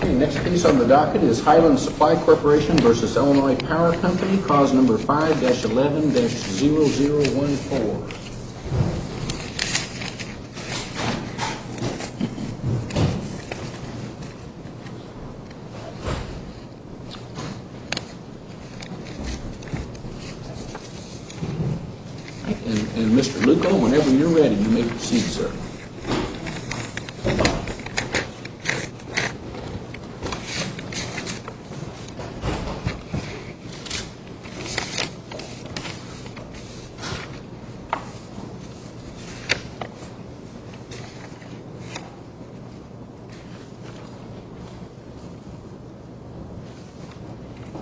The next piece on the docket is Highland Supply Corporation v. Illinois Power Company, cause number 5-11-0014. And Mr. Lucco, whenever you're ready, you may proceed, sir. Thank you, sir.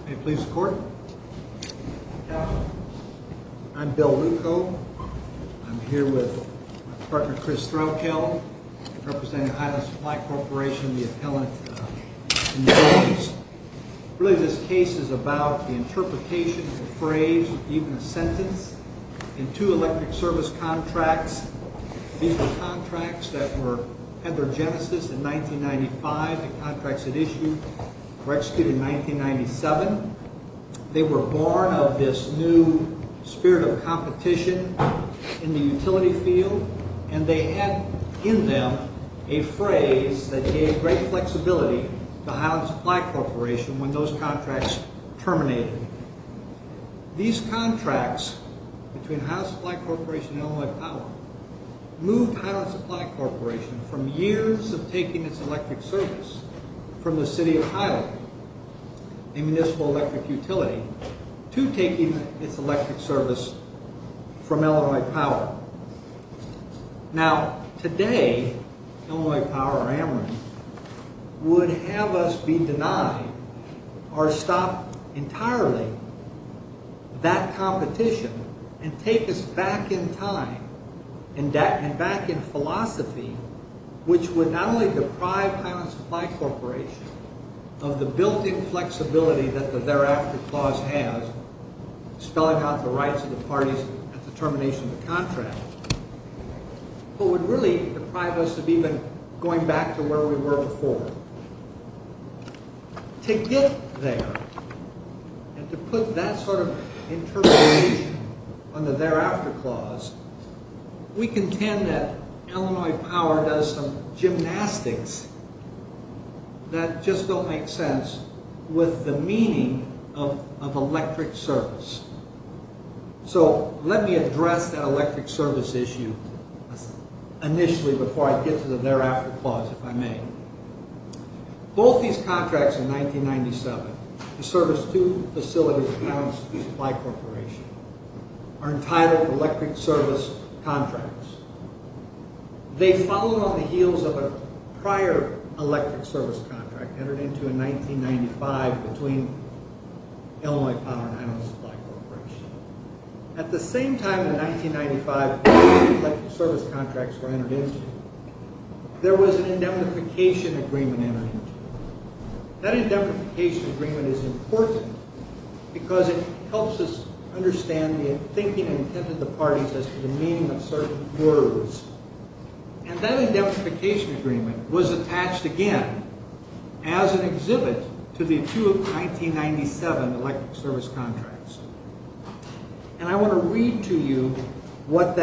May it please the court. I'm Bill Lucco. I'm here with my partner Chris Strokel, representing the Highland Supply Corporation and the appellant in the case. Really, this case is about the interpretation of the phrase, or even a sentence, in two electric service contracts. These were contracts that had their genesis in 1995. The contracts that issued were executed in 1997. They were born of this new spirit of competition in the utility field, and they had in them a phrase that gave great flexibility to Highland Supply Corporation when those contracts terminated. These contracts between Highland Supply Corporation and Illinois Power moved Highland Supply Corporation from years of taking its electric service from the city of Highland, a municipal electric utility, to taking its electric service from Illinois Power. Now, today, Illinois Power or Ameren would have us be denied or stop entirely that competition and take us back in time and back in philosophy, which would not only deprive Highland Supply Corporation of the built-in flexibility that the thereafter clause has, spelling out the rights of the parties at the termination of the contract, but would really deprive us of even going back to where we were before. To get there, and to put that sort of interpretation on the thereafter clause, we contend that Illinois Power does some gymnastics that just don't make sense with the meaning of electric service. So, let me address that electric service issue initially before I get to the thereafter clause, if I may. Both these contracts in 1997, to service two facilities at Highland Supply Corporation, are entitled electric service contracts. They followed on the heels of a prior electric service contract entered into in 1995 between Illinois Power and Highland Supply Corporation. At the same time in 1995, electric service contracts were entered into, there was an indemnification agreement entered into. That indemnification agreement is important because it helps us understand the thinking and intent of the parties as to the meaning of certain words. And that indemnification agreement was attached again as an exhibit to the two 1997 electric service contracts. And I want to read to you what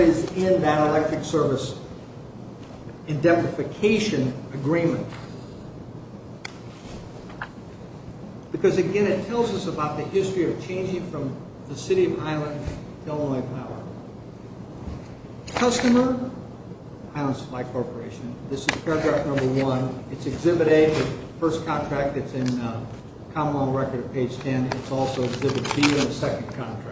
is in that electric service indemnification agreement. Because, again, it tells us about the history of changing from the City of Highland to Illinois Power. Customer, Highland Supply Corporation, this is paragraph number one. It's exhibit A, the first contract that's in the common law record at page 10. It's also exhibit B, the second contract.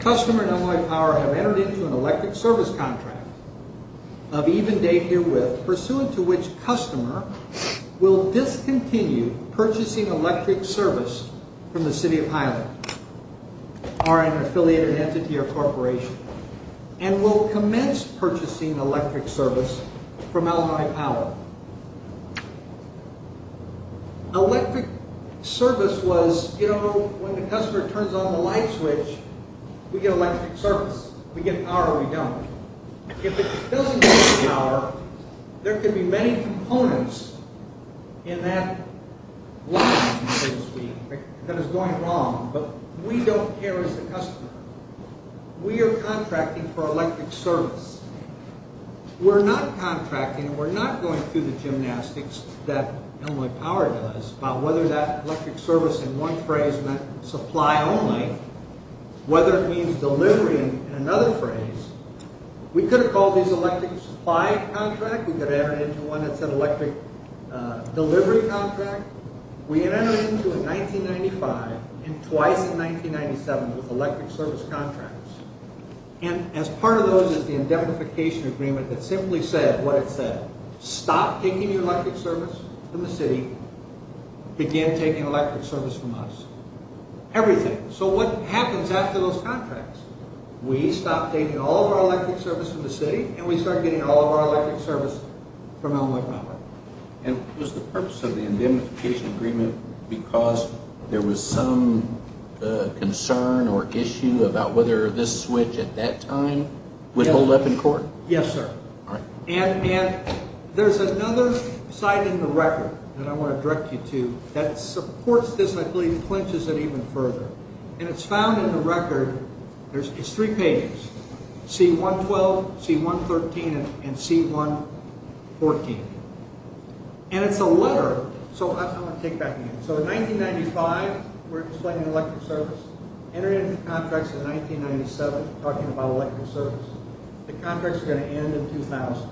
Customer and Illinois Power have entered into an electric service contract of even date herewith, pursuant to which customer will discontinue purchasing electric service from the City of Highland or an affiliated entity or corporation and will commence purchasing electric service from Illinois Power. Electric service was, you know, when the customer turns on the light switch, we get electric service. If we get power, we don't. If it doesn't get power, there could be many components in that light, so to speak, that is going wrong, but we don't care as the customer. We are contracting for electric service. We're not contracting, we're not going through the gymnastics that Illinois Power does about whether that electric service in one phrase meant supply only, whether it means delivery in another phrase. We could have called these electric supply contracts. We could have entered into one that said electric delivery contract. We had entered into it in 1995 and twice in 1997 with electric service contracts. And as part of those is the indemnification agreement that simply said what it said, stop taking your electric service from the city, begin taking electric service from us. Everything. So what happens after those contracts? We stop taking all of our electric service from the city and we start getting all of our electric service from Illinois Power. And was the purpose of the indemnification agreement because there was some concern or issue about whether this switch at that time would hold up in court? Yes, sir. And there's another side in the record that I want to direct you to that supports this and I believe clinches it even further. And it's found in the record. It's three pages. C-112, C-113, and C-114. And it's a letter. So I'm going to take that. So in 1995, we're explaining electric service. Entered into contracts in 1997 talking about electric service. The contracts are going to end in 2000.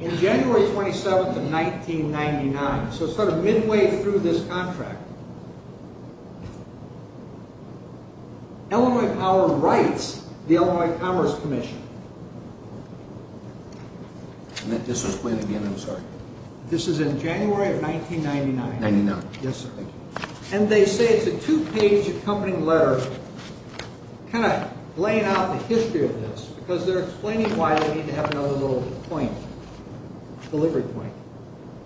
In January 27th of 1999, so sort of midway through this contract, Illinois Power writes the Illinois Commerce Commission. This was in January of 1999. And they say it's a two-page accompanying letter kind of laying out the history of this because they're explaining why they need to have another little point, delivery point.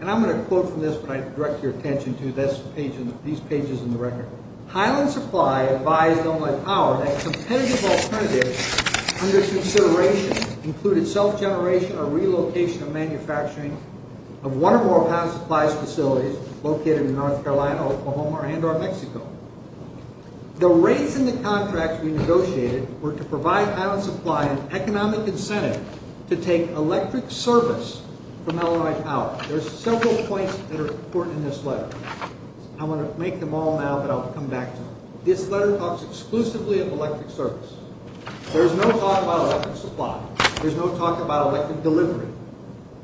And I'm going to quote from this, but I direct your attention to these pages in the record. Highland Supply advised Illinois Power that competitive alternatives under consideration included self-generation or relocation of manufacturing of one or more of Highland Supply's facilities located in North Carolina, Oklahoma, and or Mexico. The rates in the contracts we negotiated were to provide Highland Supply an economic incentive to take electric service from Illinois Power. There's several points that are important in this letter. I'm going to make them all now, but I'll come back to them. This letter talks exclusively of electric service. There's no talk about electric supply. There's no talk about electric delivery.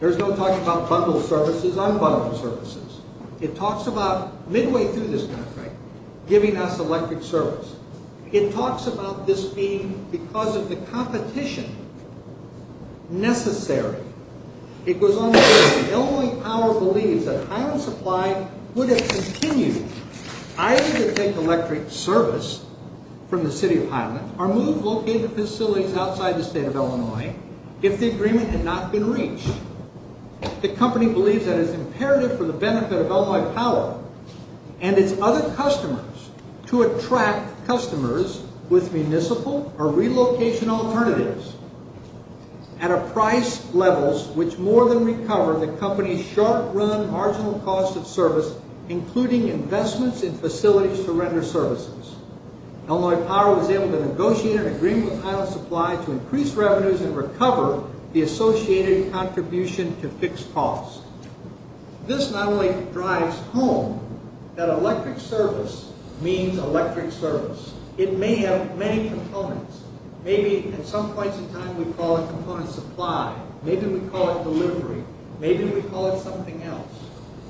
There's no talk about bundled services, unbundled services. It talks about, midway through this contract, giving us electric service. It talks about this being because of the competition necessary. It goes on to say that Illinois Power believes that Highland Supply would have continued either to take electric service from the city of Highland or move located facilities outside the state of Illinois if the agreement had not been reached. The company believes that it's imperative for the benefit of Illinois Power and its other customers to attract customers with municipal or relocation alternatives at a price level which more than recover the company's short-run marginal cost of service, including investments in facilities to render services. Illinois Power was able to negotiate an agreement with Highland Supply to increase revenues and recover the associated contribution to fixed costs. This not only drives home that electric service means electric service. It may have many components. Maybe at some points in time we call it component supply. Maybe we call it delivery. Maybe we call it something else.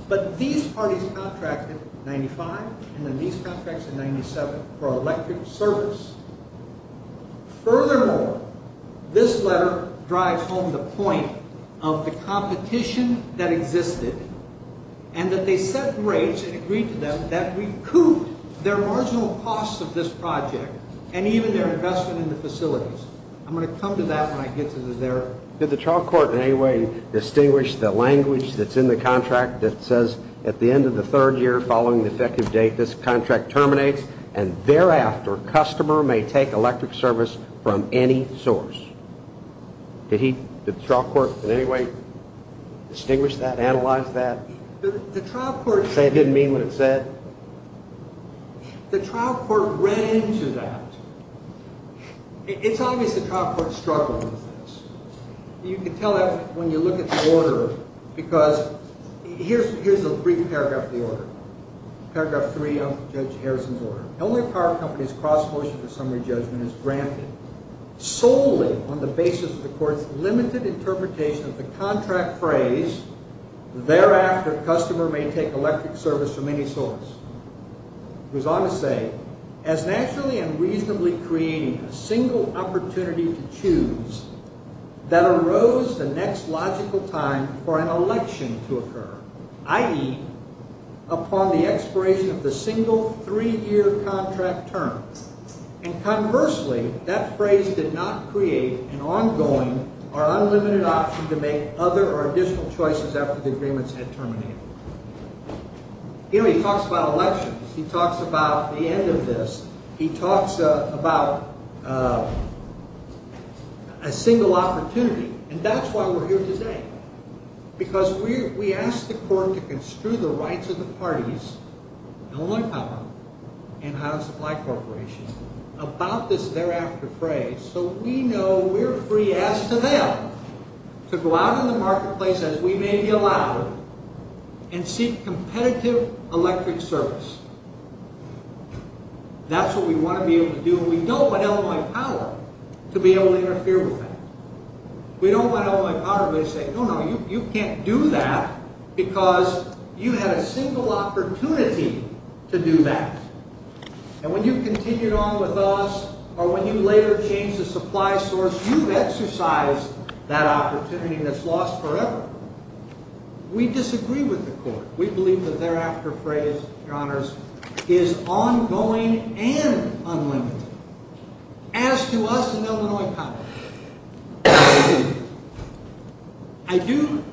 But these parties contracted in 1995, and then these contracts in 1997 for electric service. Furthermore, this letter drives home the point of the competition that existed and that they set rates and agreed to them that recouped their marginal costs of this project and even their investment in the facilities. I'm going to come to that when I get to their... Did the trial court in any way distinguish the language that's in the contract that says at the end of the third year following the effective date, this contract terminates and thereafter customer may take electric service from any source? Did the trial court in any way distinguish that, analyze that? The trial court... Say it didn't mean what it said? The trial court read into that. It's obvious the trial court struggled with this. You can tell that when you look at the order because... Here's a brief paragraph of the order. Paragraph 3 of Judge Harrison's order. The only power of company's cross motion for summary judgment is granted solely on the basis of the court's limited interpretation of the contract phrase thereafter customer may take electric service from any source. It goes on to say, as naturally and reasonably creating a single opportunity to choose that arose the next logical time for an election to occur, i.e., upon the expiration of the single three-year contract term. And conversely, that phrase did not create an ongoing or unlimited option to make other or additional choices after the agreements had terminated. He talks about elections. He talks about the end of this. He talks about a single opportunity. And that's why we're here today. Because we ask the court to construe the rights of the parties, Illinois Compound and Howard Supply Corporation, about this thereafter phrase so we know we're free, as to them, to go out in the marketplace as we may be allowed and seek competitive electric service. That's what we want to be able to do. We don't want Illinois Power to be able to interfere with that. We don't want Illinois Power to be able to say, no, no, you can't do that because you had a single opportunity to do that. And when you continued on with us or when you later changed the supply source, you've exercised that opportunity that's lost forever. We disagree with the court. We believe that thereafter phrase, Your Honors, is ongoing and unlimited. As to us and Illinois Power, I do.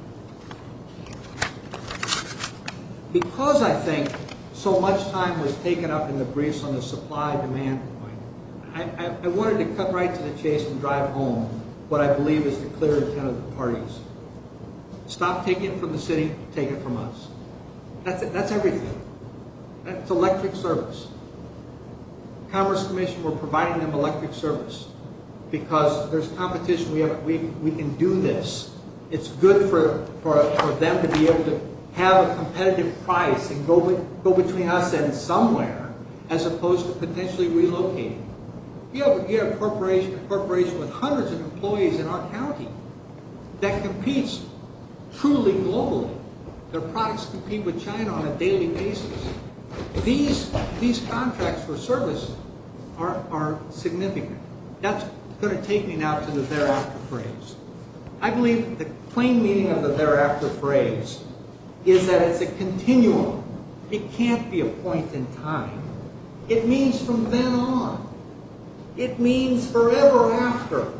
Because I think so much time was taken up in the briefs on the supply-demand point, I wanted to cut right to the chase and drive home what I believe is the clear intent of the parties. Stop taking it from the city, take it from us. That's everything. That's electric service. Commerce Commission, we're providing them electric service because there's competition. We can do this. It's good for them to be able to have a competitive price and go between us and somewhere as opposed to potentially relocating. We have a corporation with hundreds of employees in our county that competes truly globally. Their products compete with China on a daily basis. These contracts for service are significant. That's going to take me now to the thereafter phrase. I believe the plain meaning of the thereafter phrase is that it's a continuum. It can't be a point in time. It means from then on. It means forever after.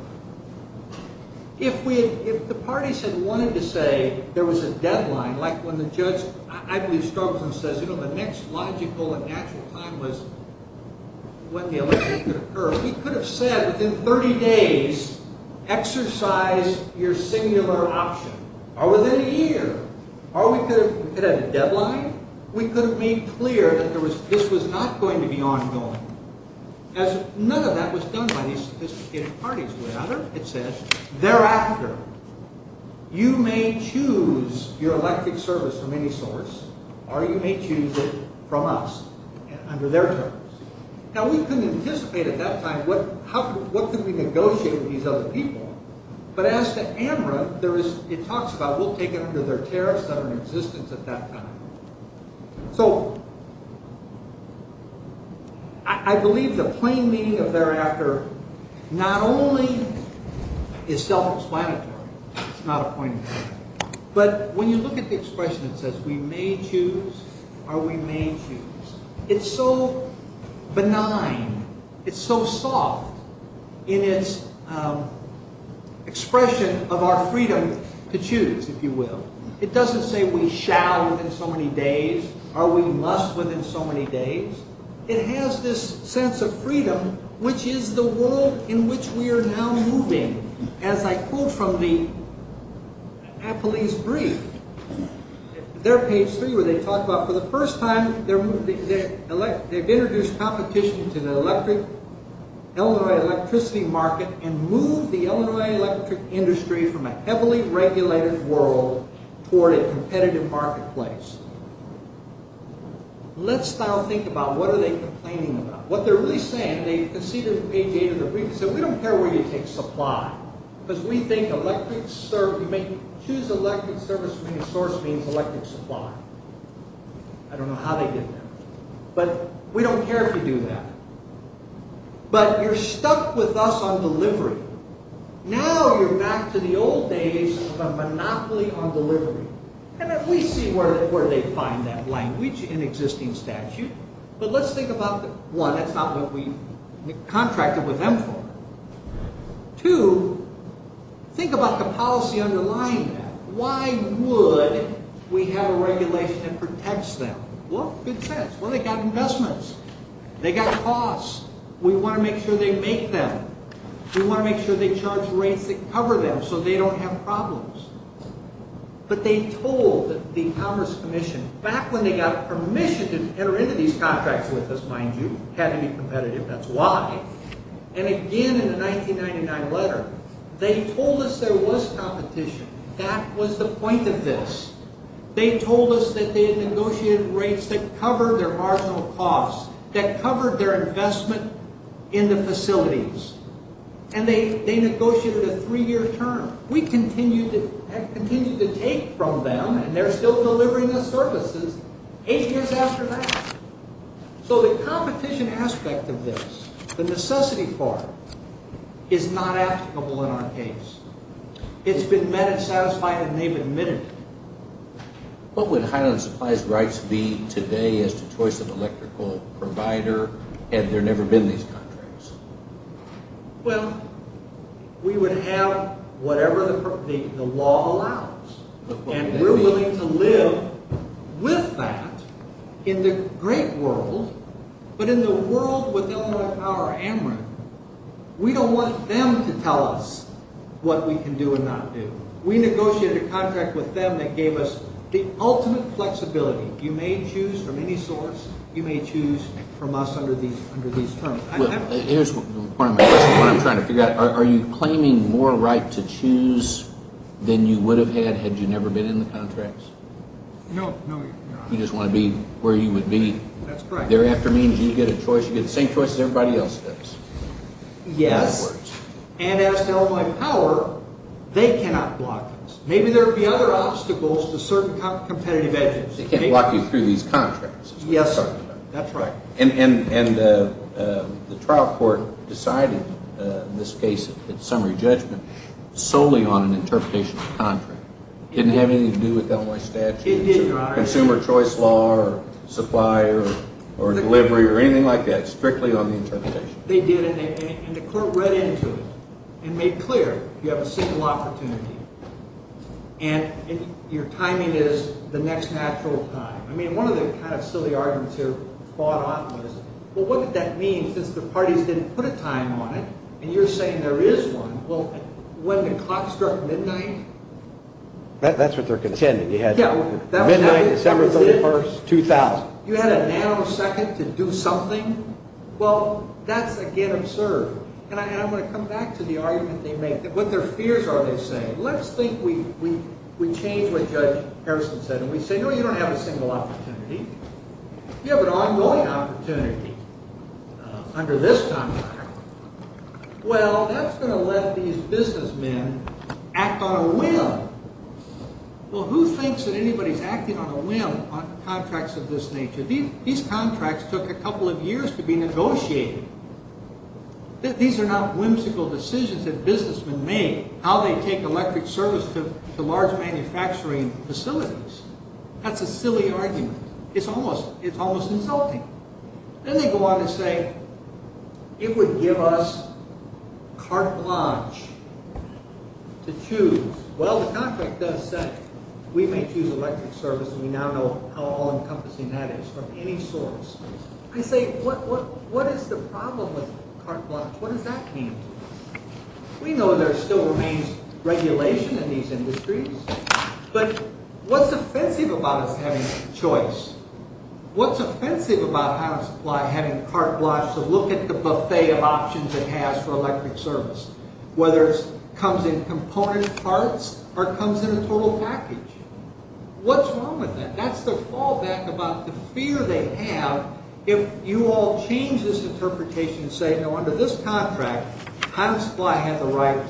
If the parties had wanted to say there was a deadline, like when the judge, I believe, struggles and says, you know, the next logical and natural time was when the election could occur, we could have said within 30 days, exercise your singular option. Or within a year. Or we could have had a deadline. We could have made clear that this was not going to be ongoing. None of that was done by these sophisticated parties. Thereafter, you may choose your elected service from any source, or you may choose it from us under their terms. Now, we can anticipate at that time what could we negotiate with these other people. But as to AMRA, it talks about we'll take it under their tariffs that are in existence at that time. So I believe the plain meaning of thereafter not only is self-explanatory. It's not a point in time. But when you look at the expression that says we may choose or we may choose, it's so benign, it's so soft in its expression of our freedom to choose, if you will. It doesn't say we shall within so many days, or we must within so many days. It has this sense of freedom, which is the world in which we are now moving. As I quote from the Appley's brief, their page three where they talk about for the first time, they've introduced competition to the Illinois electricity market and moved the Illinois electric industry from a heavily regulated world toward a competitive marketplace. Let's now think about what are they complaining about. What they're really saying, they conceded in page eight of the brief, they said we don't care where you take supply, because we think you may choose elected service from any source means elected supply. I don't know how they did that. But we don't care if you do that. But you're stuck with us on delivery. Now you're back to the old days of a monopoly on delivery. And we see where they find that language in existing statute. But let's think about, one, that's not what we contracted with them for. Two, think about the policy underlying that. Why would we have a regulation that protects them? Well, good sense. Well, they got investments. They got costs. We want to make sure they make them. We want to make sure they charge rates that cover them so they don't have problems. But they told the Commerce Commission, back when they got permission to enter into these contracts with us, mind you, had to be competitive, that's why. And again in the 1999 letter, they told us there was competition. That was the point of this. They told us that they had negotiated rates that covered their marginal costs, that covered their investment in the facilities. And they negotiated a three-year term. We continued to take from them, and they're still delivering us services, eight years after that. So the competition aspect of this, the necessity part, is not applicable in our case. It's been met and satisfied, and they've admitted it. What would Highland Supplies Rights be today as the choice of electrical provider, had there never been these contracts? Well, we would have whatever the law allows. And we're willing to live with that in the great world, but in the world with Illinois Power Amarin. We don't want them to tell us what we can do and not do. We negotiated a contract with them that gave us the ultimate flexibility. You may choose from any source. You may choose from us under these terms. Here's the point I'm trying to figure out. Are you claiming more right to choose than you would have had had you never been in the contracts? No. You just want to be where you would be. That's correct. Thereafter means you get a choice. You get the same choice as everybody else does. Yes. And as to Illinois Power, they cannot block us. Maybe there will be other obstacles to certain competitive edges. They can't block you through these contracts. Yes, that's right. And the trial court decided in this case, in summary judgment, solely on an interpretation of the contract. It didn't have anything to do with the Illinois statute. It didn't, Your Honor. It didn't have consumer choice law or supplier or delivery or anything like that strictly on the interpretation. They did, and the court read into it and made clear you have a single opportunity, and your timing is the next natural time. I mean, one of the kind of silly arguments here fought off was, well, what did that mean since the parties didn't put a time on it, and you're saying there is one. Well, when the clock struck midnight? That's what they're contending. Midnight, December 31st, 2000. You had a nanosecond to do something? Well, that's, again, absurd. And I'm going to come back to the argument they made. What their fears are, they say. Let's think we change what Judge Harrison said, and we say, no, you don't have a single opportunity. You have an ongoing opportunity under this timeline. Well, that's going to let these businessmen act on a whim. Well, who thinks that anybody is acting on a whim on contracts of this nature? These contracts took a couple of years to be negotiated. These are not whimsical decisions that businessmen make, how they take electric service to large manufacturing facilities. That's a silly argument. It's almost insulting. Then they go on to say it would give us carte blanche to choose. Well, the contract does say we may choose electric service, and we now know how all-encompassing that is from any source. I say, what is the problem with carte blanche? What does that mean? We know there still remains regulation in these industries, but what's offensive about us having choice? What's offensive about Adam Supply having carte blanche to look at the buffet of options it has for electric service, whether it comes in component parts or comes in a total package? What's wrong with that? That's the fallback about the fear they have if you all change this interpretation and say, no, under this contract, Adam Supply had the right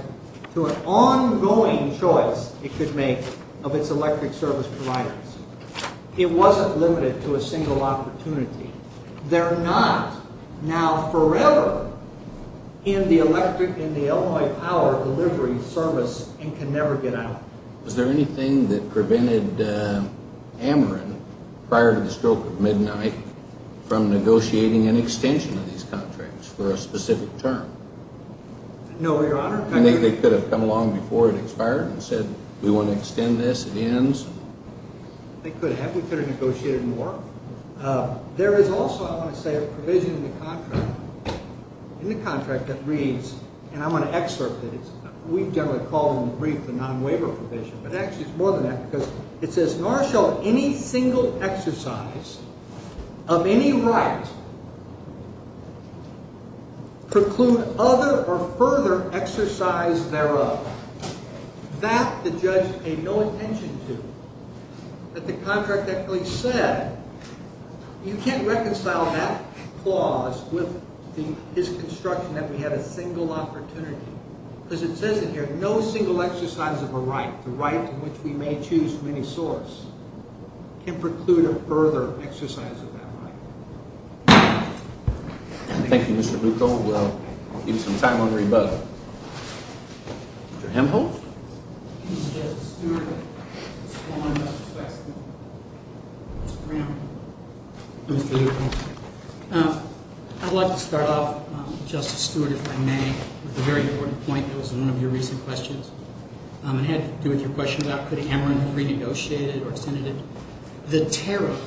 to an ongoing choice it could make of its electric service providers. It wasn't limited to a single opportunity. They're not now forever in the electric and the alloy power delivery service and can never get out. Was there anything that prevented Ameren, prior to the stroke of midnight, from negotiating an extension of these contracts for a specific term? No, Your Honor. Do you think they could have come along before it expired and said, we want to extend this, it ends? They could have. We could have negotiated more. There is also, I want to say, a provision in the contract that reads, and I want to excerpt it. We generally call them the non-waiver provision, but actually it's more than that because it says, nor shall any single exercise of any right preclude other or further exercise thereof. That the judge paid no attention to, that the contract actually said, you can't reconcile that clause with his construction that we have a single opportunity because it says in here, no single exercise of a right, the right in which we may choose from any source, can preclude a further exercise of that right. Thank you, Mr. Bucco. We'll leave some time on the rebuttal. Mr. Hemphill? Yes, Your Honor. I'd like to start off, Justice Stewart, if I may, with a very important point. It was in one of your recent questions. It had to do with your question about could Hemrin have renegotiated or extended it. The tariff,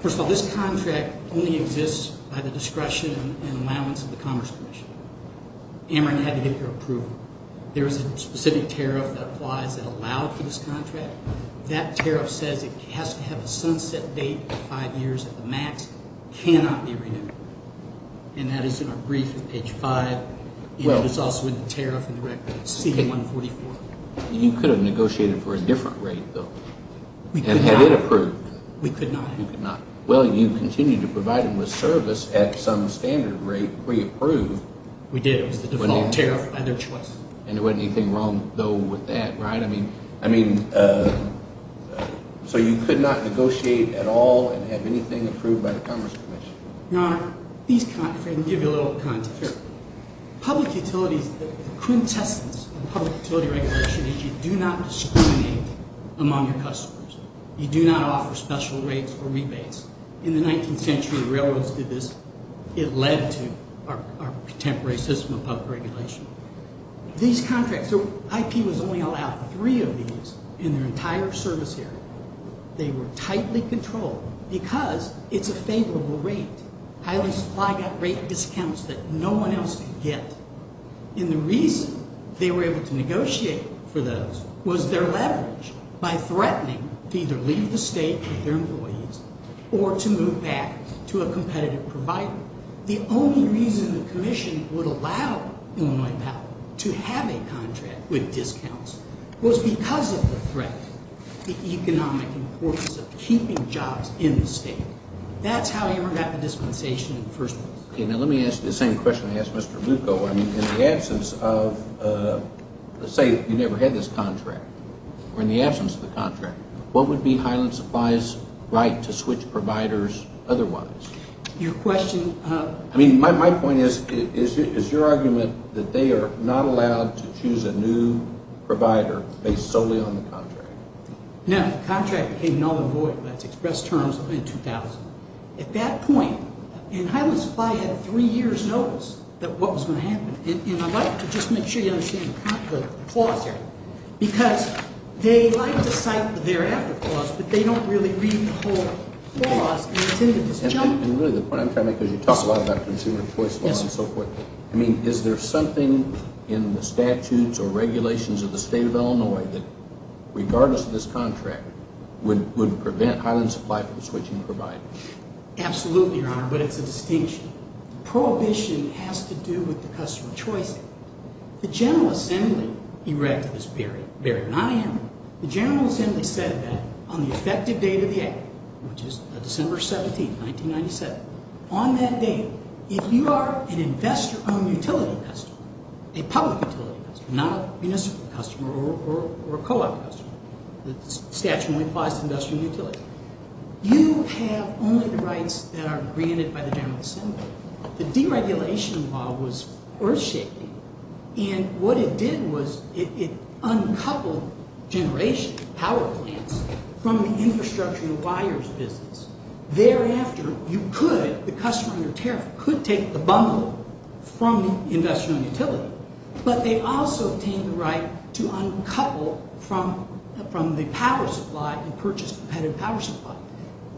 first of all, this contract only exists by the discretion and allowance of the Commerce Commission. Hemrin had to get their approval. There is a specific tariff that applies that allowed for this contract. That tariff says it has to have a sunset date of five years at the max, cannot be renewed. And that is in our brief at page five. It's also in the tariff and the record, CD-144. You could have negotiated for a different rate, though. We could not. And had it approved, you could not. Well, you continue to provide them with service at some standard rate pre-approved. We did. It was the default tariff by their choice. And there wasn't anything wrong, though, with that, right? I mean, so you could not negotiate at all and have anything approved by the Commerce Commission. Your Honor, let me give you a little context here. Public utilities, the quintessence of public utility regulation is you do not discriminate among your customers. You do not offer special rates or rebates. In the 19th century, railroads did this. It led to our contemporary system of public regulation. These contracts, IP was only allowed three of these in their entire service area. They were tightly controlled because it's a favorable rate. Highland Supply got rate discounts that no one else could get. And the reason they were able to negotiate for those was their leverage by threatening to either leave the state with their employees or to move back to a competitive provider. The only reason the commission would allow Illinois Power to have a contract with discounts was because of the threat, the economic importance of keeping jobs in the state. That's how Irma got the dispensation in the first place. Okay, now let me ask the same question I asked Mr. Lucco. In the absence of, let's say you never had this contract, or in the absence of the contract, what would be Highland Supply's right to switch providers otherwise? Your question? I mean, my point is, is your argument that they are not allowed to choose a new provider based solely on the contract? No, the contract became null and void. That's express terms in 2000. At that point, and Highland Supply had three years' notice that what was going to happen. And I'd like to just make sure you understand the clause here. Because they like to cite the thereafter clause, but they don't really read the whole clause. And really the point I'm trying to make is you talk a lot about consumer choice law and so forth. I mean, is there something in the statutes or regulations of the state of Illinois that, regardless of this contract, would prevent Highland Supply from switching providers? Absolutely, Your Honor, but it's a distinction. Prohibition has to do with the customer choice act. The General Assembly erected this barrier, not I am. The General Assembly said that on the effective date of the act, which is December 17, 1997, on that date, if you are an investor owned utility customer, a public utility customer, not a municipal customer or a co-op customer, the statute only applies to industrial utility, you have only the rights that are granted by the General Assembly. The deregulation law was earth-shaking. And what it did was it uncoupled generation power plants from the infrastructure and wires business. Thereafter, you could, the customer under tariff could take the bundle from the industrial utility, but they also obtained the right to uncouple from the power supply and purchase competitive power supply.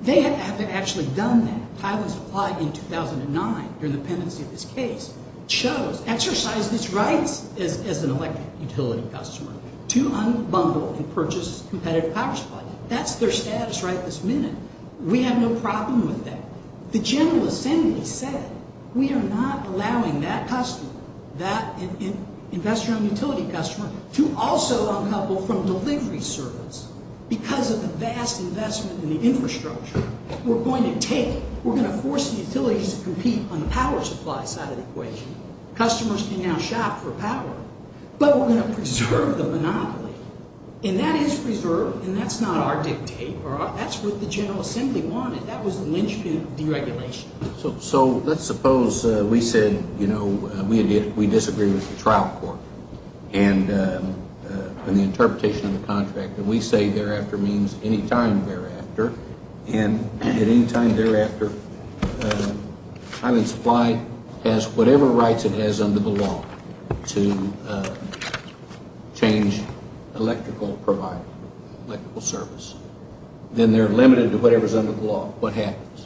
They haven't actually done that. Highland Supply in 2009, during the pendency of this case, chose, exercised its rights as an electric utility customer to unbundle and purchase competitive power supply. That's their status right this minute. We have no problem with that. The General Assembly said we are not allowing that customer, that investor owned utility customer, to also uncouple from delivery service because of the vast investment in the infrastructure. We're going to take, we're going to force the utilities to compete on the power supply side of the equation. Customers can now shop for power. But we're going to preserve the monopoly. And that is preserved, and that's not our dictate. That's what the General Assembly wanted. That was lynched deregulation. So let's suppose we said, you know, we disagree with the trial court and the interpretation of the contract that we say thereafter means any time thereafter. And at any time thereafter, Highland Supply has whatever rights it has under the law to change electrical provider, electrical service. Then they're limited to whatever's under the law. What happens?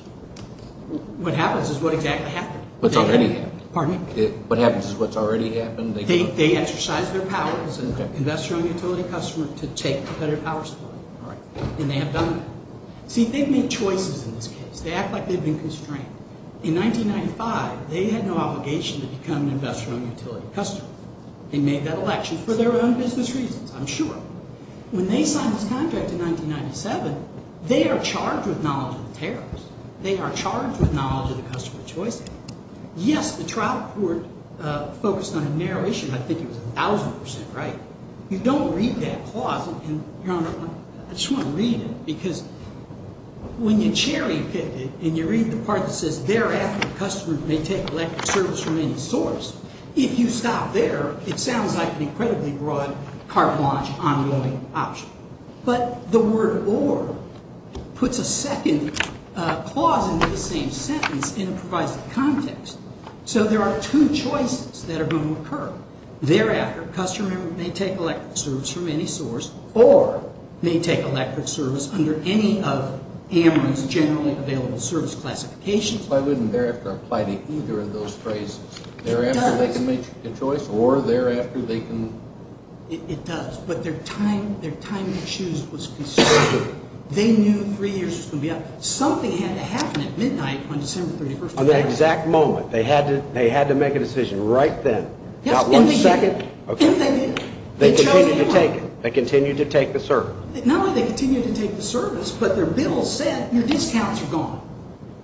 What happens is what exactly happened. What's already happened. Pardon me? What happens is what's already happened. They exercised their powers as an investor owned utility customer to take competitive power supply. All right. And they have done that. See, they've made choices in this case. They act like they've been constrained. In 1995, they had no obligation to become an investor owned utility customer. They made that election for their own business reasons, I'm sure. When they signed this contract in 1997, they are charged with knowledge of the tariffs. They are charged with knowledge of the customer choice act. Yes, the trial court focused on a narrow issue. I think it was 1,000%, right? You don't read that clause. And, Your Honor, I just want to read it. Because when you cherry pick it and you read the part that says, thereafter, the customer may take electric service from any source, if you stop there, it sounds like an incredibly broad carte blanche ongoing option. But the word or puts a second clause into the same sentence and it provides context. So there are two choices that are going to occur. Thereafter, customer may take electric service from any source or may take electric service under any of AMRU's generally available service classifications. Why wouldn't thereafter apply to either of those phrases? It does. Thereafter they can make a choice or thereafter they can. It does. But their time to choose was constrained. They knew three years was going to be up. Something had to happen at midnight on December 31st. On that exact moment. They had to make a decision right then. Got one second. And they did. They chose to take it. They continued to take the service. Not only did they continue to take the service, but their bill said your discounts are gone.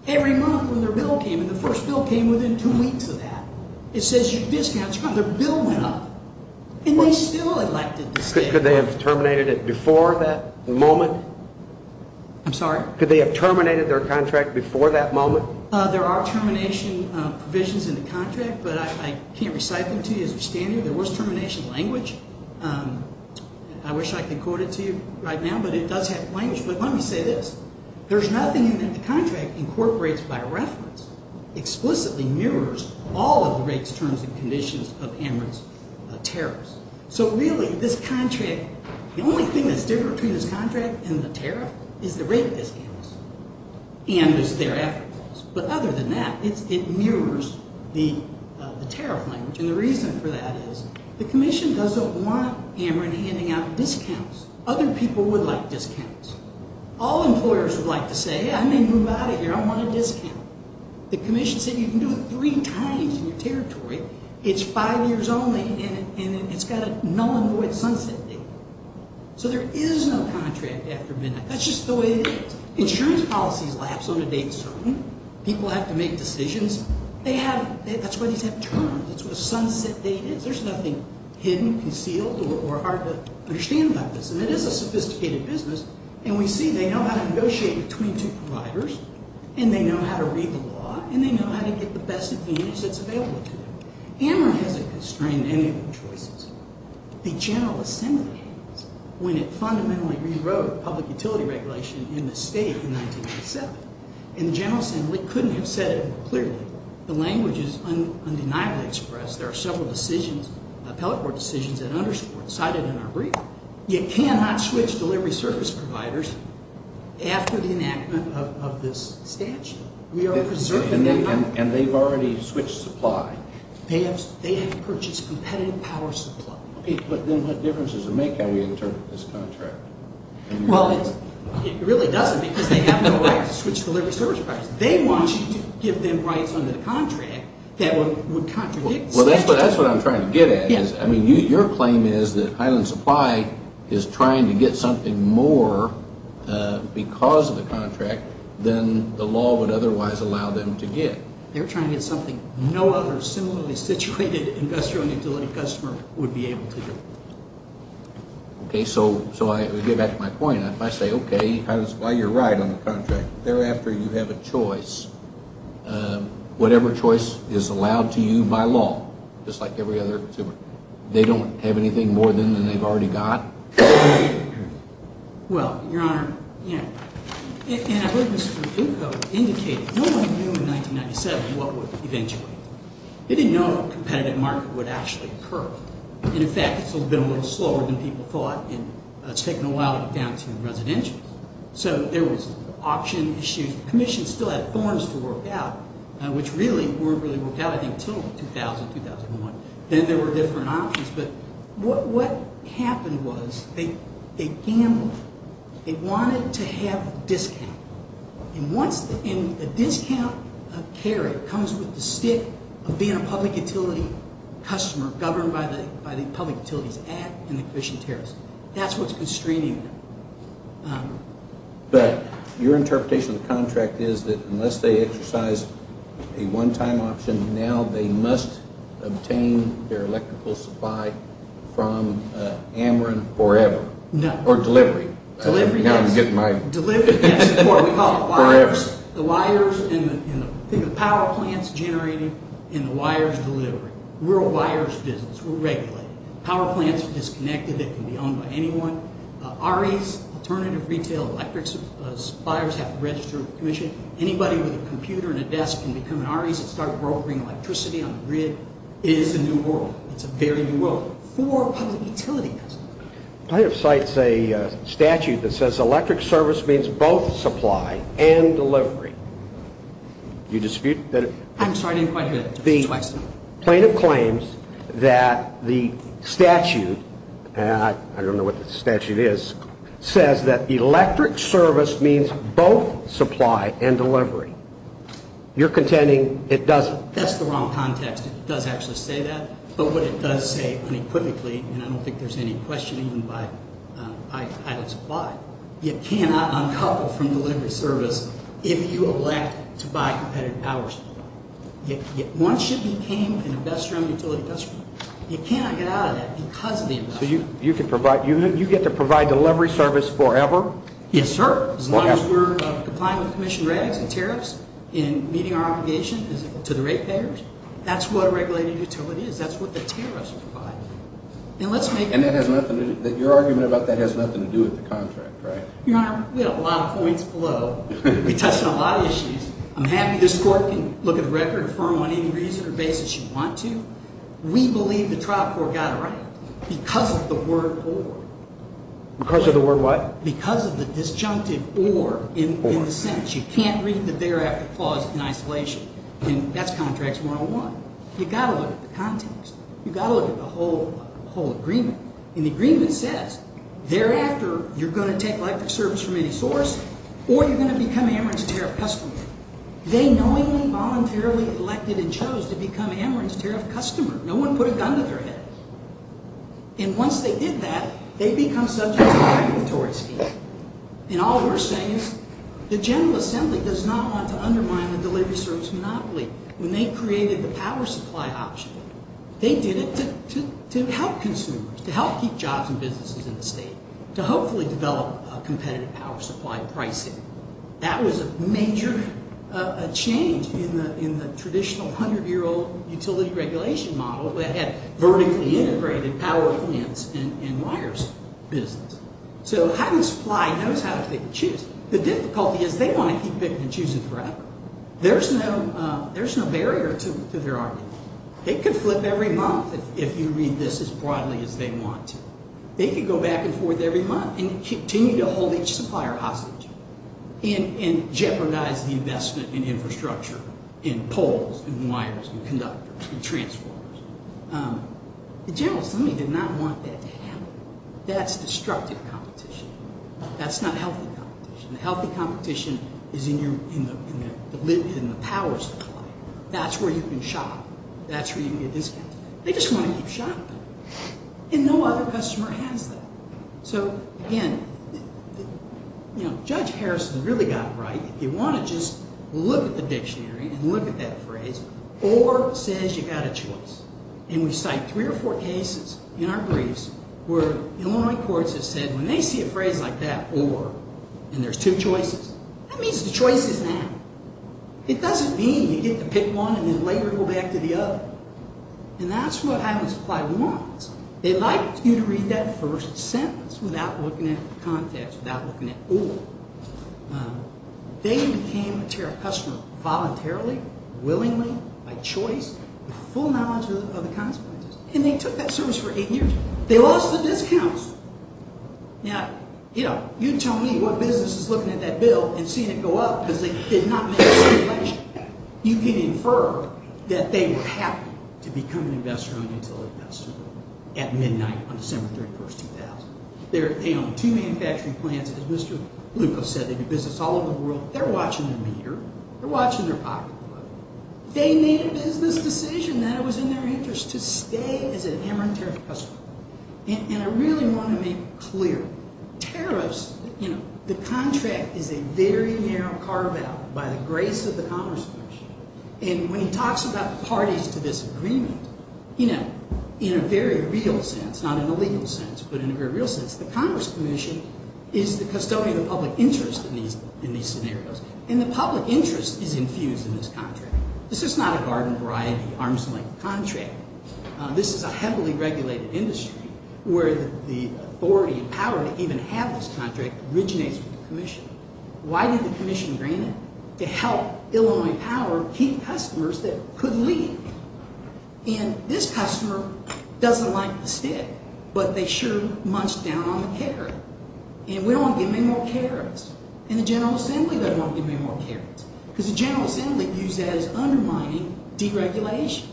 Every month when their bill came in, the first bill came within two weeks of that. It says your discounts are gone. Their bill went up. And they still elected to stay. Could they have terminated it before that moment? I'm sorry? Could they have terminated their contract before that moment? There are termination provisions in the contract, but I can't recite them to you as a standard. There was termination language. I wish I could quote it to you right now, but it does have language. But let me say this. There's nothing in there that the contract incorporates by reference. Explicitly mirrors all of the rates, terms, and conditions of Amherst tariffs. So, really, this contract, the only thing that's different between this contract and the tariff is the rate of discounts. And there's their effort goals. But other than that, it mirrors the tariff language. And the reason for that is the commission doesn't want Amherst handing out discounts. Other people would like discounts. All employers would like to say, I may move out of here. I want a discount. The commission said you can do it three times in your territory. It's five years only, and it's got a null and void sunset date. So there is no contract after midnight. That's just the way it is. Insurance policies lapse on a date certain. People have to make decisions. That's why these have terms. That's what a sunset date is. There's nothing hidden, concealed, or hard to understand about this. And it is a sophisticated business. And we see they know how to negotiate between two providers. And they know how to read the law. And they know how to get the best advantage that's available to them. Amherst hasn't constrained anyone's choices. The General Assembly, when it fundamentally rewrote public utility regulation in the state in 1987, and the General Assembly couldn't have said it more clearly. The language is undeniably expressed. There are several decisions, appellate court decisions, at Amherst that are cited in our brief. You cannot switch delivery service providers after the enactment of this statute. We are preserving them. And they've already switched supply. They have purchased competitive power supply. Okay, but then what difference does it make how we interpret this contract? Well, it really doesn't because they have no right to switch delivery service providers. They want you to give them rights under the contract that would contradict the statute. Well, that's what I'm trying to get at. I mean, your claim is that Highland Supply is trying to get something more because of the contract than the law would otherwise allow them to get. They're trying to get something no other similarly situated industrial utility customer would be able to get. Okay, so I get back to my point. If I say, okay, you're right on the contract. Thereafter, you have a choice. Whatever choice is allowed to you by law, just like every other consumer. They don't have anything more than they've already got? Well, Your Honor, you know, and I believe Mr. Dukko indicated no one knew in 1997 what would eventually happen. They didn't know if a competitive market would actually occur. And, in fact, this would have been a little slower than people thought. And it's taken a while to get down to the residential. So there was option issues. Commission still had forms to work out, which really weren't really worked out I think until 2000, 2001. Then there were different options. But what happened was they gambled. They wanted to have a discount. And a discount carry comes with the stick of being a public utility customer governed by the Public Utilities Act and the Commission Tariffs. That's what's constraining them. But your interpretation of the contract is that unless they exercise a one-time option, now they must obtain their electrical supply from Ameren forever. No. Or delivery. Delivery, yes. Delivery, yes. That's what we call the wires. Forever. The wires and the power plants generated in the wires delivery. We're a wires business. We're regulated. Power plants are disconnected. REs, Alternative Retail Electric Suppliers have to register with the Commission. Anybody with a computer and a desk can become an REs and start brokering electricity on the grid. It is a new world. It's a very new world for public utility customers. Plaintiff cites a statute that says electric service means both supply and delivery. Do you dispute that? I'm sorry, I didn't quite hear that. The plaintiff claims that the statute, and I don't know what the statute is, says that electric service means both supply and delivery. You're contending it doesn't. That's the wrong context. It does actually say that. But what it does say unequivocally, and I don't think there's any questioning by pilot supply, you cannot uncouple from delivery service if you elect to buy competitive power supply. Once you became an investor in the utility industry, you cannot get out of that because of the investment. So you get to provide delivery service forever? Yes, sir. As long as we're complying with Commission regs and tariffs and meeting our obligation to the rate payers, that's what a regulated utility is. That's what the tariffs are for. And your argument about that has nothing to do with the contract, right? Your Honor, we have a lot of points below. We touched on a lot of issues. I'm happy this Court can look at the record and affirm on any reason or basis you want to. We believe the trial court got it right because of the word or. Because of the word what? Because of the disjunctive or in the sentence. You can't read the thereafter clause in isolation. And that's Contracts 101. You've got to look at the context. You've got to look at the whole agreement. And the agreement says, thereafter, you're going to take electric service from any source or you're going to become Ameren's tariff customer. They knowingly, voluntarily elected and chose to become Ameren's tariff customer. No one put a gun to their head. And once they did that, they become subject to a regulatory scheme. And all we're saying is the General Assembly does not want to undermine the delivery service monopoly. When they created the power supply option, they did it to help consumers, to help keep jobs and businesses in the state, to hopefully develop a competitive power supply pricing. That was a major change in the traditional 100-year-old utility regulation model that had vertically integrated power plants and wires business. So having supply knows how to pick and choose. The difficulty is they want to keep picking and choosing forever. There's no barrier to their argument. They could flip every month if you read this as broadly as they want to. They could go back and forth every month and continue to hold each supplier hostage and jeopardize the investment in infrastructure, in poles, in wires, in conductors, in transformers. The General Assembly did not want that to happen. That's destructive competition. That's not healthy competition. Healthy competition is in the power supply. That's where you can shop. That's where you can get discounts. They just want to keep shopping. And no other customer has that. So, again, you know, Judge Harrison really got it right. If you want to just look at the dictionary and look at that phrase, or says you've got a choice. And we cite three or four cases in our briefs where Illinois courts have said when they see a phrase like that, or, and there's two choices, that means the choice is now. It doesn't mean you get to pick one and then later go back to the other. And that's what Highland Supply wants. They'd like you to read that first sentence without looking at context, without looking at or. They became a tariff customer voluntarily, willingly, by choice, with full knowledge of the consequences. And they took that service for eight years. They lost the discounts. Now, you know, you tell me what business is looking at that bill and seeing it go up, because they did not make a stipulation. You can infer that they were happy to become an investor on utility investment at midnight on December 31, 2000. They own two manufacturing plants. As Mr. Lukos said, they do business all over the world. They're watching the meter. They're watching their pocketbook. They made a business decision that it was in their interest to stay as a hammer and tariff customer. And I really want to make clear, tariffs, you know, the contract is a very narrow carve-out by the grace of the Congress Commission. And when he talks about parties to this agreement, you know, in a very real sense, not in a legal sense, but in a very real sense, the Congress Commission is the custodian of public interest in these scenarios. And the public interest is infused in this contract. This is not a garden variety, arm's length contract. This is a heavily regulated industry where the authority and power to even have this contract originates from the commission. Why did the commission grant it? To help Illinois Power keep customers that could leave. And this customer doesn't like the stick, but they sure munched down on the carrot. And we don't want to give them any more carrots. And the General Assembly doesn't want to give them any more carrots. Because the General Assembly views that as undermining deregulation.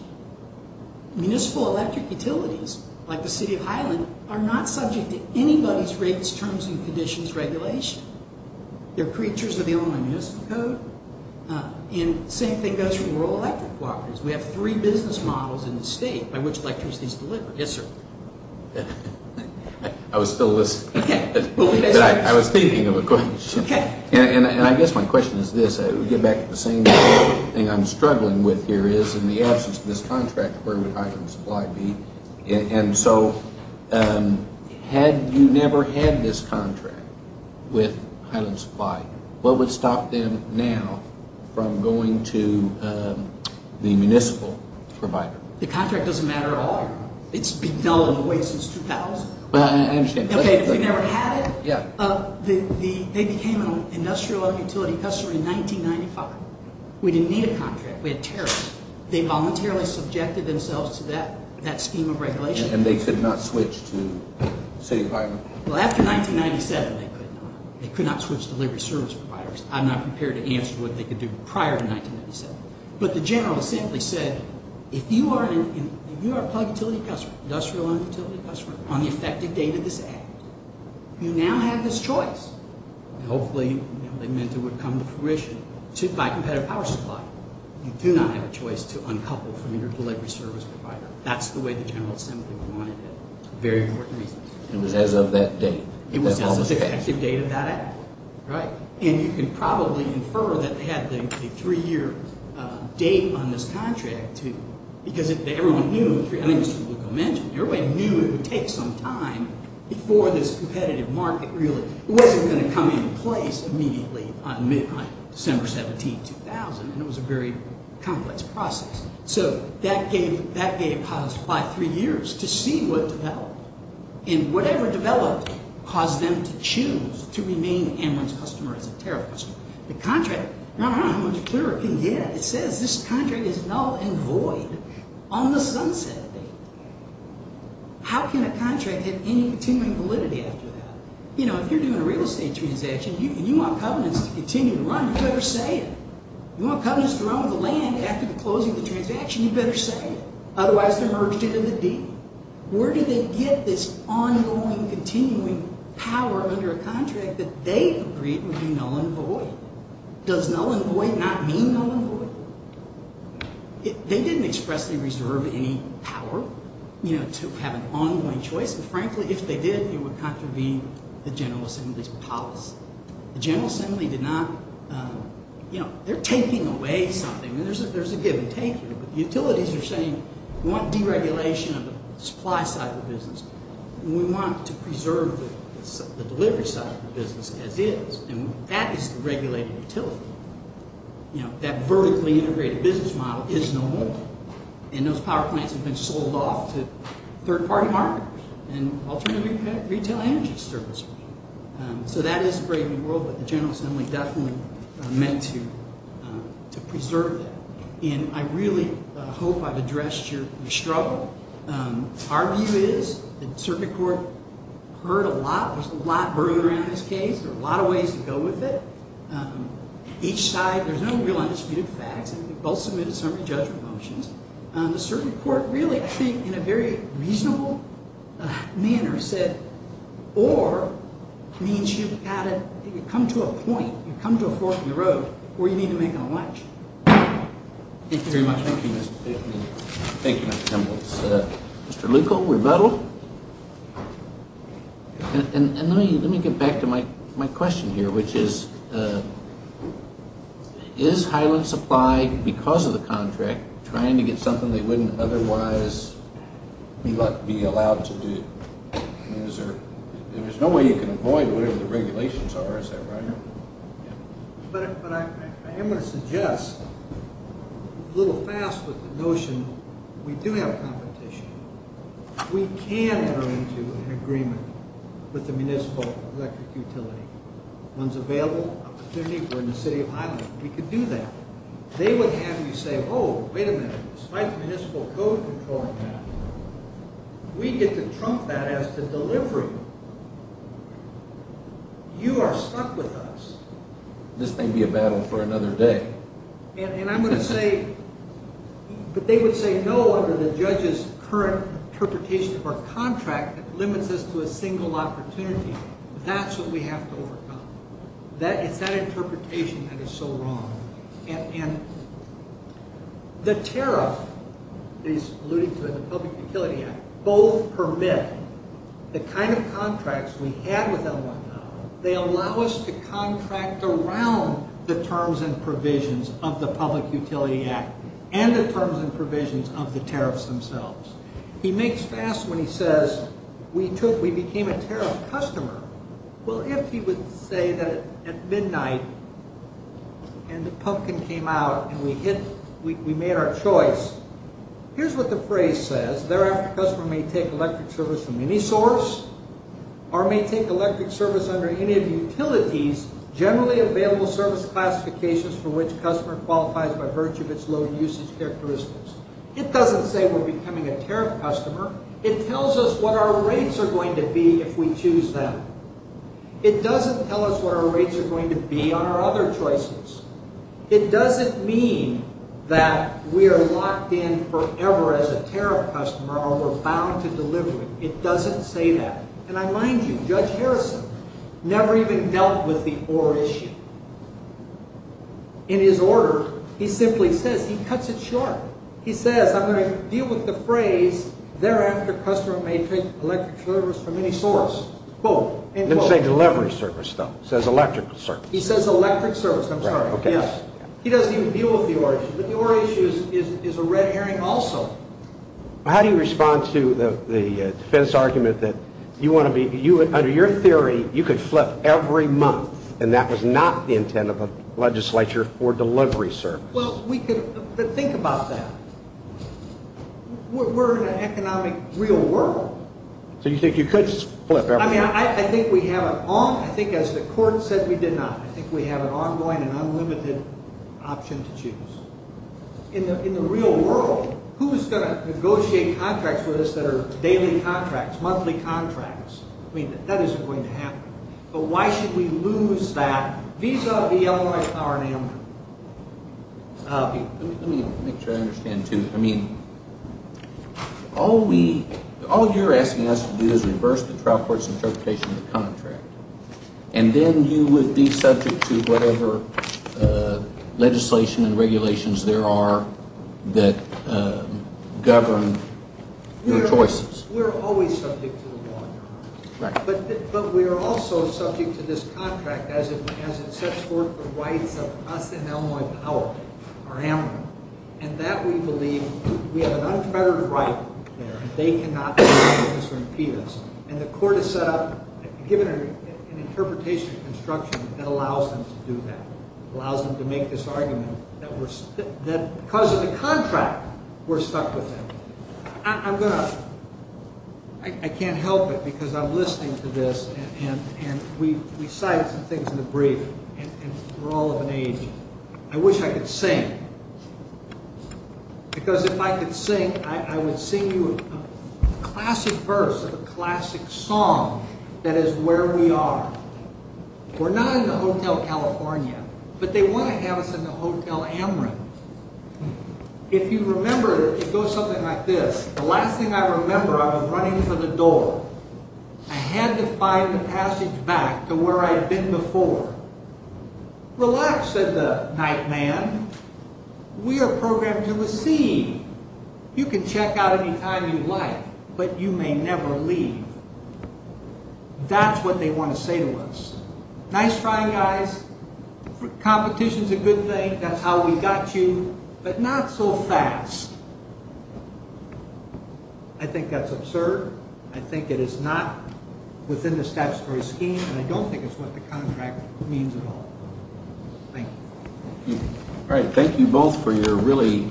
Municipal electric utilities, like the city of Highland, are not subject to anybody's rates, terms, and conditions regulation. They're creatures of the Illinois Municipal Code. And the same thing goes for rural electric cooperatives. We have three business models in the state by which electricity is delivered. Yes, sir. I was still listening, but I was thinking of a question. And I guess my question is this. It would get back to the same thing I'm struggling with here is in the absence of this contract, where would Highland Supply be? And so had you never had this contract with Highland Supply, what would stop them now from going to the municipal provider? The contract doesn't matter at all. It's been going away since 2000. I understand. Okay, if you never had it, they became an industrial utility customer in 1995. We didn't need a contract. We had tariffs. They voluntarily subjected themselves to that scheme of regulation. And they could not switch to city of Highland? Well, after 1997, they could not. They could not switch to delivery service providers. I'm not prepared to answer what they could do prior to 1997. But the General Assembly said, if you are a plug utility customer, industrial utility customer, on the effective date of this act, you now have this choice. Hopefully, they meant it would come to fruition by competitive power supply. You do not have a choice to uncouple from your delivery service provider. That's the way the General Assembly wanted it for very important reasons. It was as of that date. It was as of the effective date of that act, right? And you can probably infer that they had a three-year date on this contract, too, because everyone knew it would take some time before this competitive market really wasn't going to come into place immediately on December 17, 2000. And it was a very complex process. So that gave pilots five, three years to see what developed. And whatever developed caused them to choose to remain Amarant's customer as a tariff customer. The contract, I don't know how much clearer it can get. It says this contract is null and void on the sunset date. How can a contract have any continuing validity after that? You know, if you're doing a real estate transaction and you want covenants to continue to run, you better say it. You want covenants to run with the land after the closing of the transaction, you better say it. Otherwise, they're merged into the deed. Where do they get this ongoing, continuing power under a contract that they agreed would be null and void? Does null and void not mean null and void? They didn't expressly reserve any power, you know, to have an ongoing choice. But frankly, if they did, it would contravene the General Assembly's policy. The General Assembly did not, you know, they're taking away something. There's a give and take here, but utilities are saying we want deregulation of the supply side of the business. We want to preserve the delivery side of the business as is, and that is the regulated utility. You know, that vertically integrated business model is no more. And those power plants have been sold off to third-party marketers and alternative retail energy services. So that is a brave new world, but the General Assembly definitely meant to preserve that. And I really hope I've addressed your struggle. Our view is the circuit court heard a lot. There's a lot burning around this case. There are a lot of ways to go with it. Each side, there's no real undisputed facts. We've both submitted summary judgment motions. The circuit court really, I think, in a very reasonable manner said, or means you've got to come to a point, you've come to a fork in the road where you need to make an election. Thank you very much. Thank you, Mr. Templin. Thank you, Mr. Templin. Mr. Leuco, rebuttal. And let me get back to my question here, which is, is Highland Supply, because of the contract, trying to get something they wouldn't otherwise be allowed to do? There's no way you can avoid whatever the regulations are, is that right? But I am going to suggest, a little fast with the notion, we do have competition. We can enter into an agreement with the municipal electric utility. One's available, opportunity for in the city of Highland. We could do that. They would have you say, oh, wait a minute, despite the municipal code controlling that, we get to trump that as to delivery. You are stuck with us. This may be a battle for another day. And I'm going to say, but they would say no under the judge's current interpretation of our contract that limits us to a single opportunity. That's what we have to overcome. It's that interpretation that is so wrong. And the tariff, that he's alluding to in the Public Utility Act, both permit the kind of contracts they allow us to contract around the terms and provisions of the Public Utility Act and the terms and provisions of the tariffs themselves. He makes fast when he says, we became a tariff customer. Well, if he would say that at midnight and the pumpkin came out and we made our choice, here's what the phrase says. Thereafter, a customer may take electric service from any source or may take electric service under any of the utilities generally available service classifications for which a customer qualifies by virtue of its load usage characteristics. It doesn't say we're becoming a tariff customer. It tells us what our rates are going to be if we choose them. It doesn't tell us what our rates are going to be on our other choices. It doesn't mean that we are locked in forever as a tariff customer or we're bound to delivery. It doesn't say that. And I mind you, Judge Harrison never even dealt with the or issue. In his order, he simply says, he cuts it short. He says, I'm going to deal with the phrase, thereafter, a customer may take electric service from any source. Both. Didn't say delivery service, though. It says electrical service. He says electric service. I'm sorry. Yes. He doesn't even deal with the or issue, but the or issue is a red herring also. How do you respond to the defense argument that you want to be, under your theory, you could flip every month and that was not the intent of the legislature for delivery service? Well, we could, but think about that. We're in an economic real world. So you think you could flip every month? I think as the court said, we did not. I think we have an ongoing and unlimited option to choose. In the real world, who is going to negotiate contracts with us that are daily contracts, monthly contracts? I mean, that isn't going to happen. But why should we lose that vis-a-vis Illinois power in Amherst? Let me make sure I understand, too. I mean, all you're asking us to do is reverse the trial court's interpretation of the contract. And then you would be subject to whatever legislation and regulations there are that govern your choices. We're always subject to the law. But we're also subject to this contract as it sets forth the rights of us and Illinois power, our amity. And that we believe we have an unfettered right there. They cannot do anything to impede us. And the court has given an interpretation of construction that allows them to do that, allows them to make this argument that because of the contract, we're stuck with that. I can't help it because I'm listening to this, and we cited some things in the brief, and we're all of an age. I wish I could sing. Because if I could sing, I would sing you a classic verse of a classic song that is where we are. We're not in the Hotel California, but they want to have us in the Hotel Amherst. If you remember, it goes something like this. The last thing I remember, I was running for the door. I had to find the passage back to where I'd been before. Relax, said the night man. We are programmed to receive. You can check out any time you like, but you may never leave. That's what they want to say to us. Nice try, guys. Competition's a good thing. That's how we got you, but not so fast. I think that's absurd. I think it is not within the statutory scheme. I don't think it's what the contract means at all. Thank you. Thank you both for your really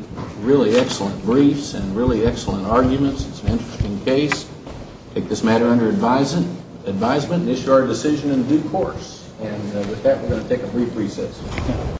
excellent briefs and really excellent arguments. It's an interesting case. Take this matter under advisement and issue our decision in due course. With that, we're going to take a brief recess.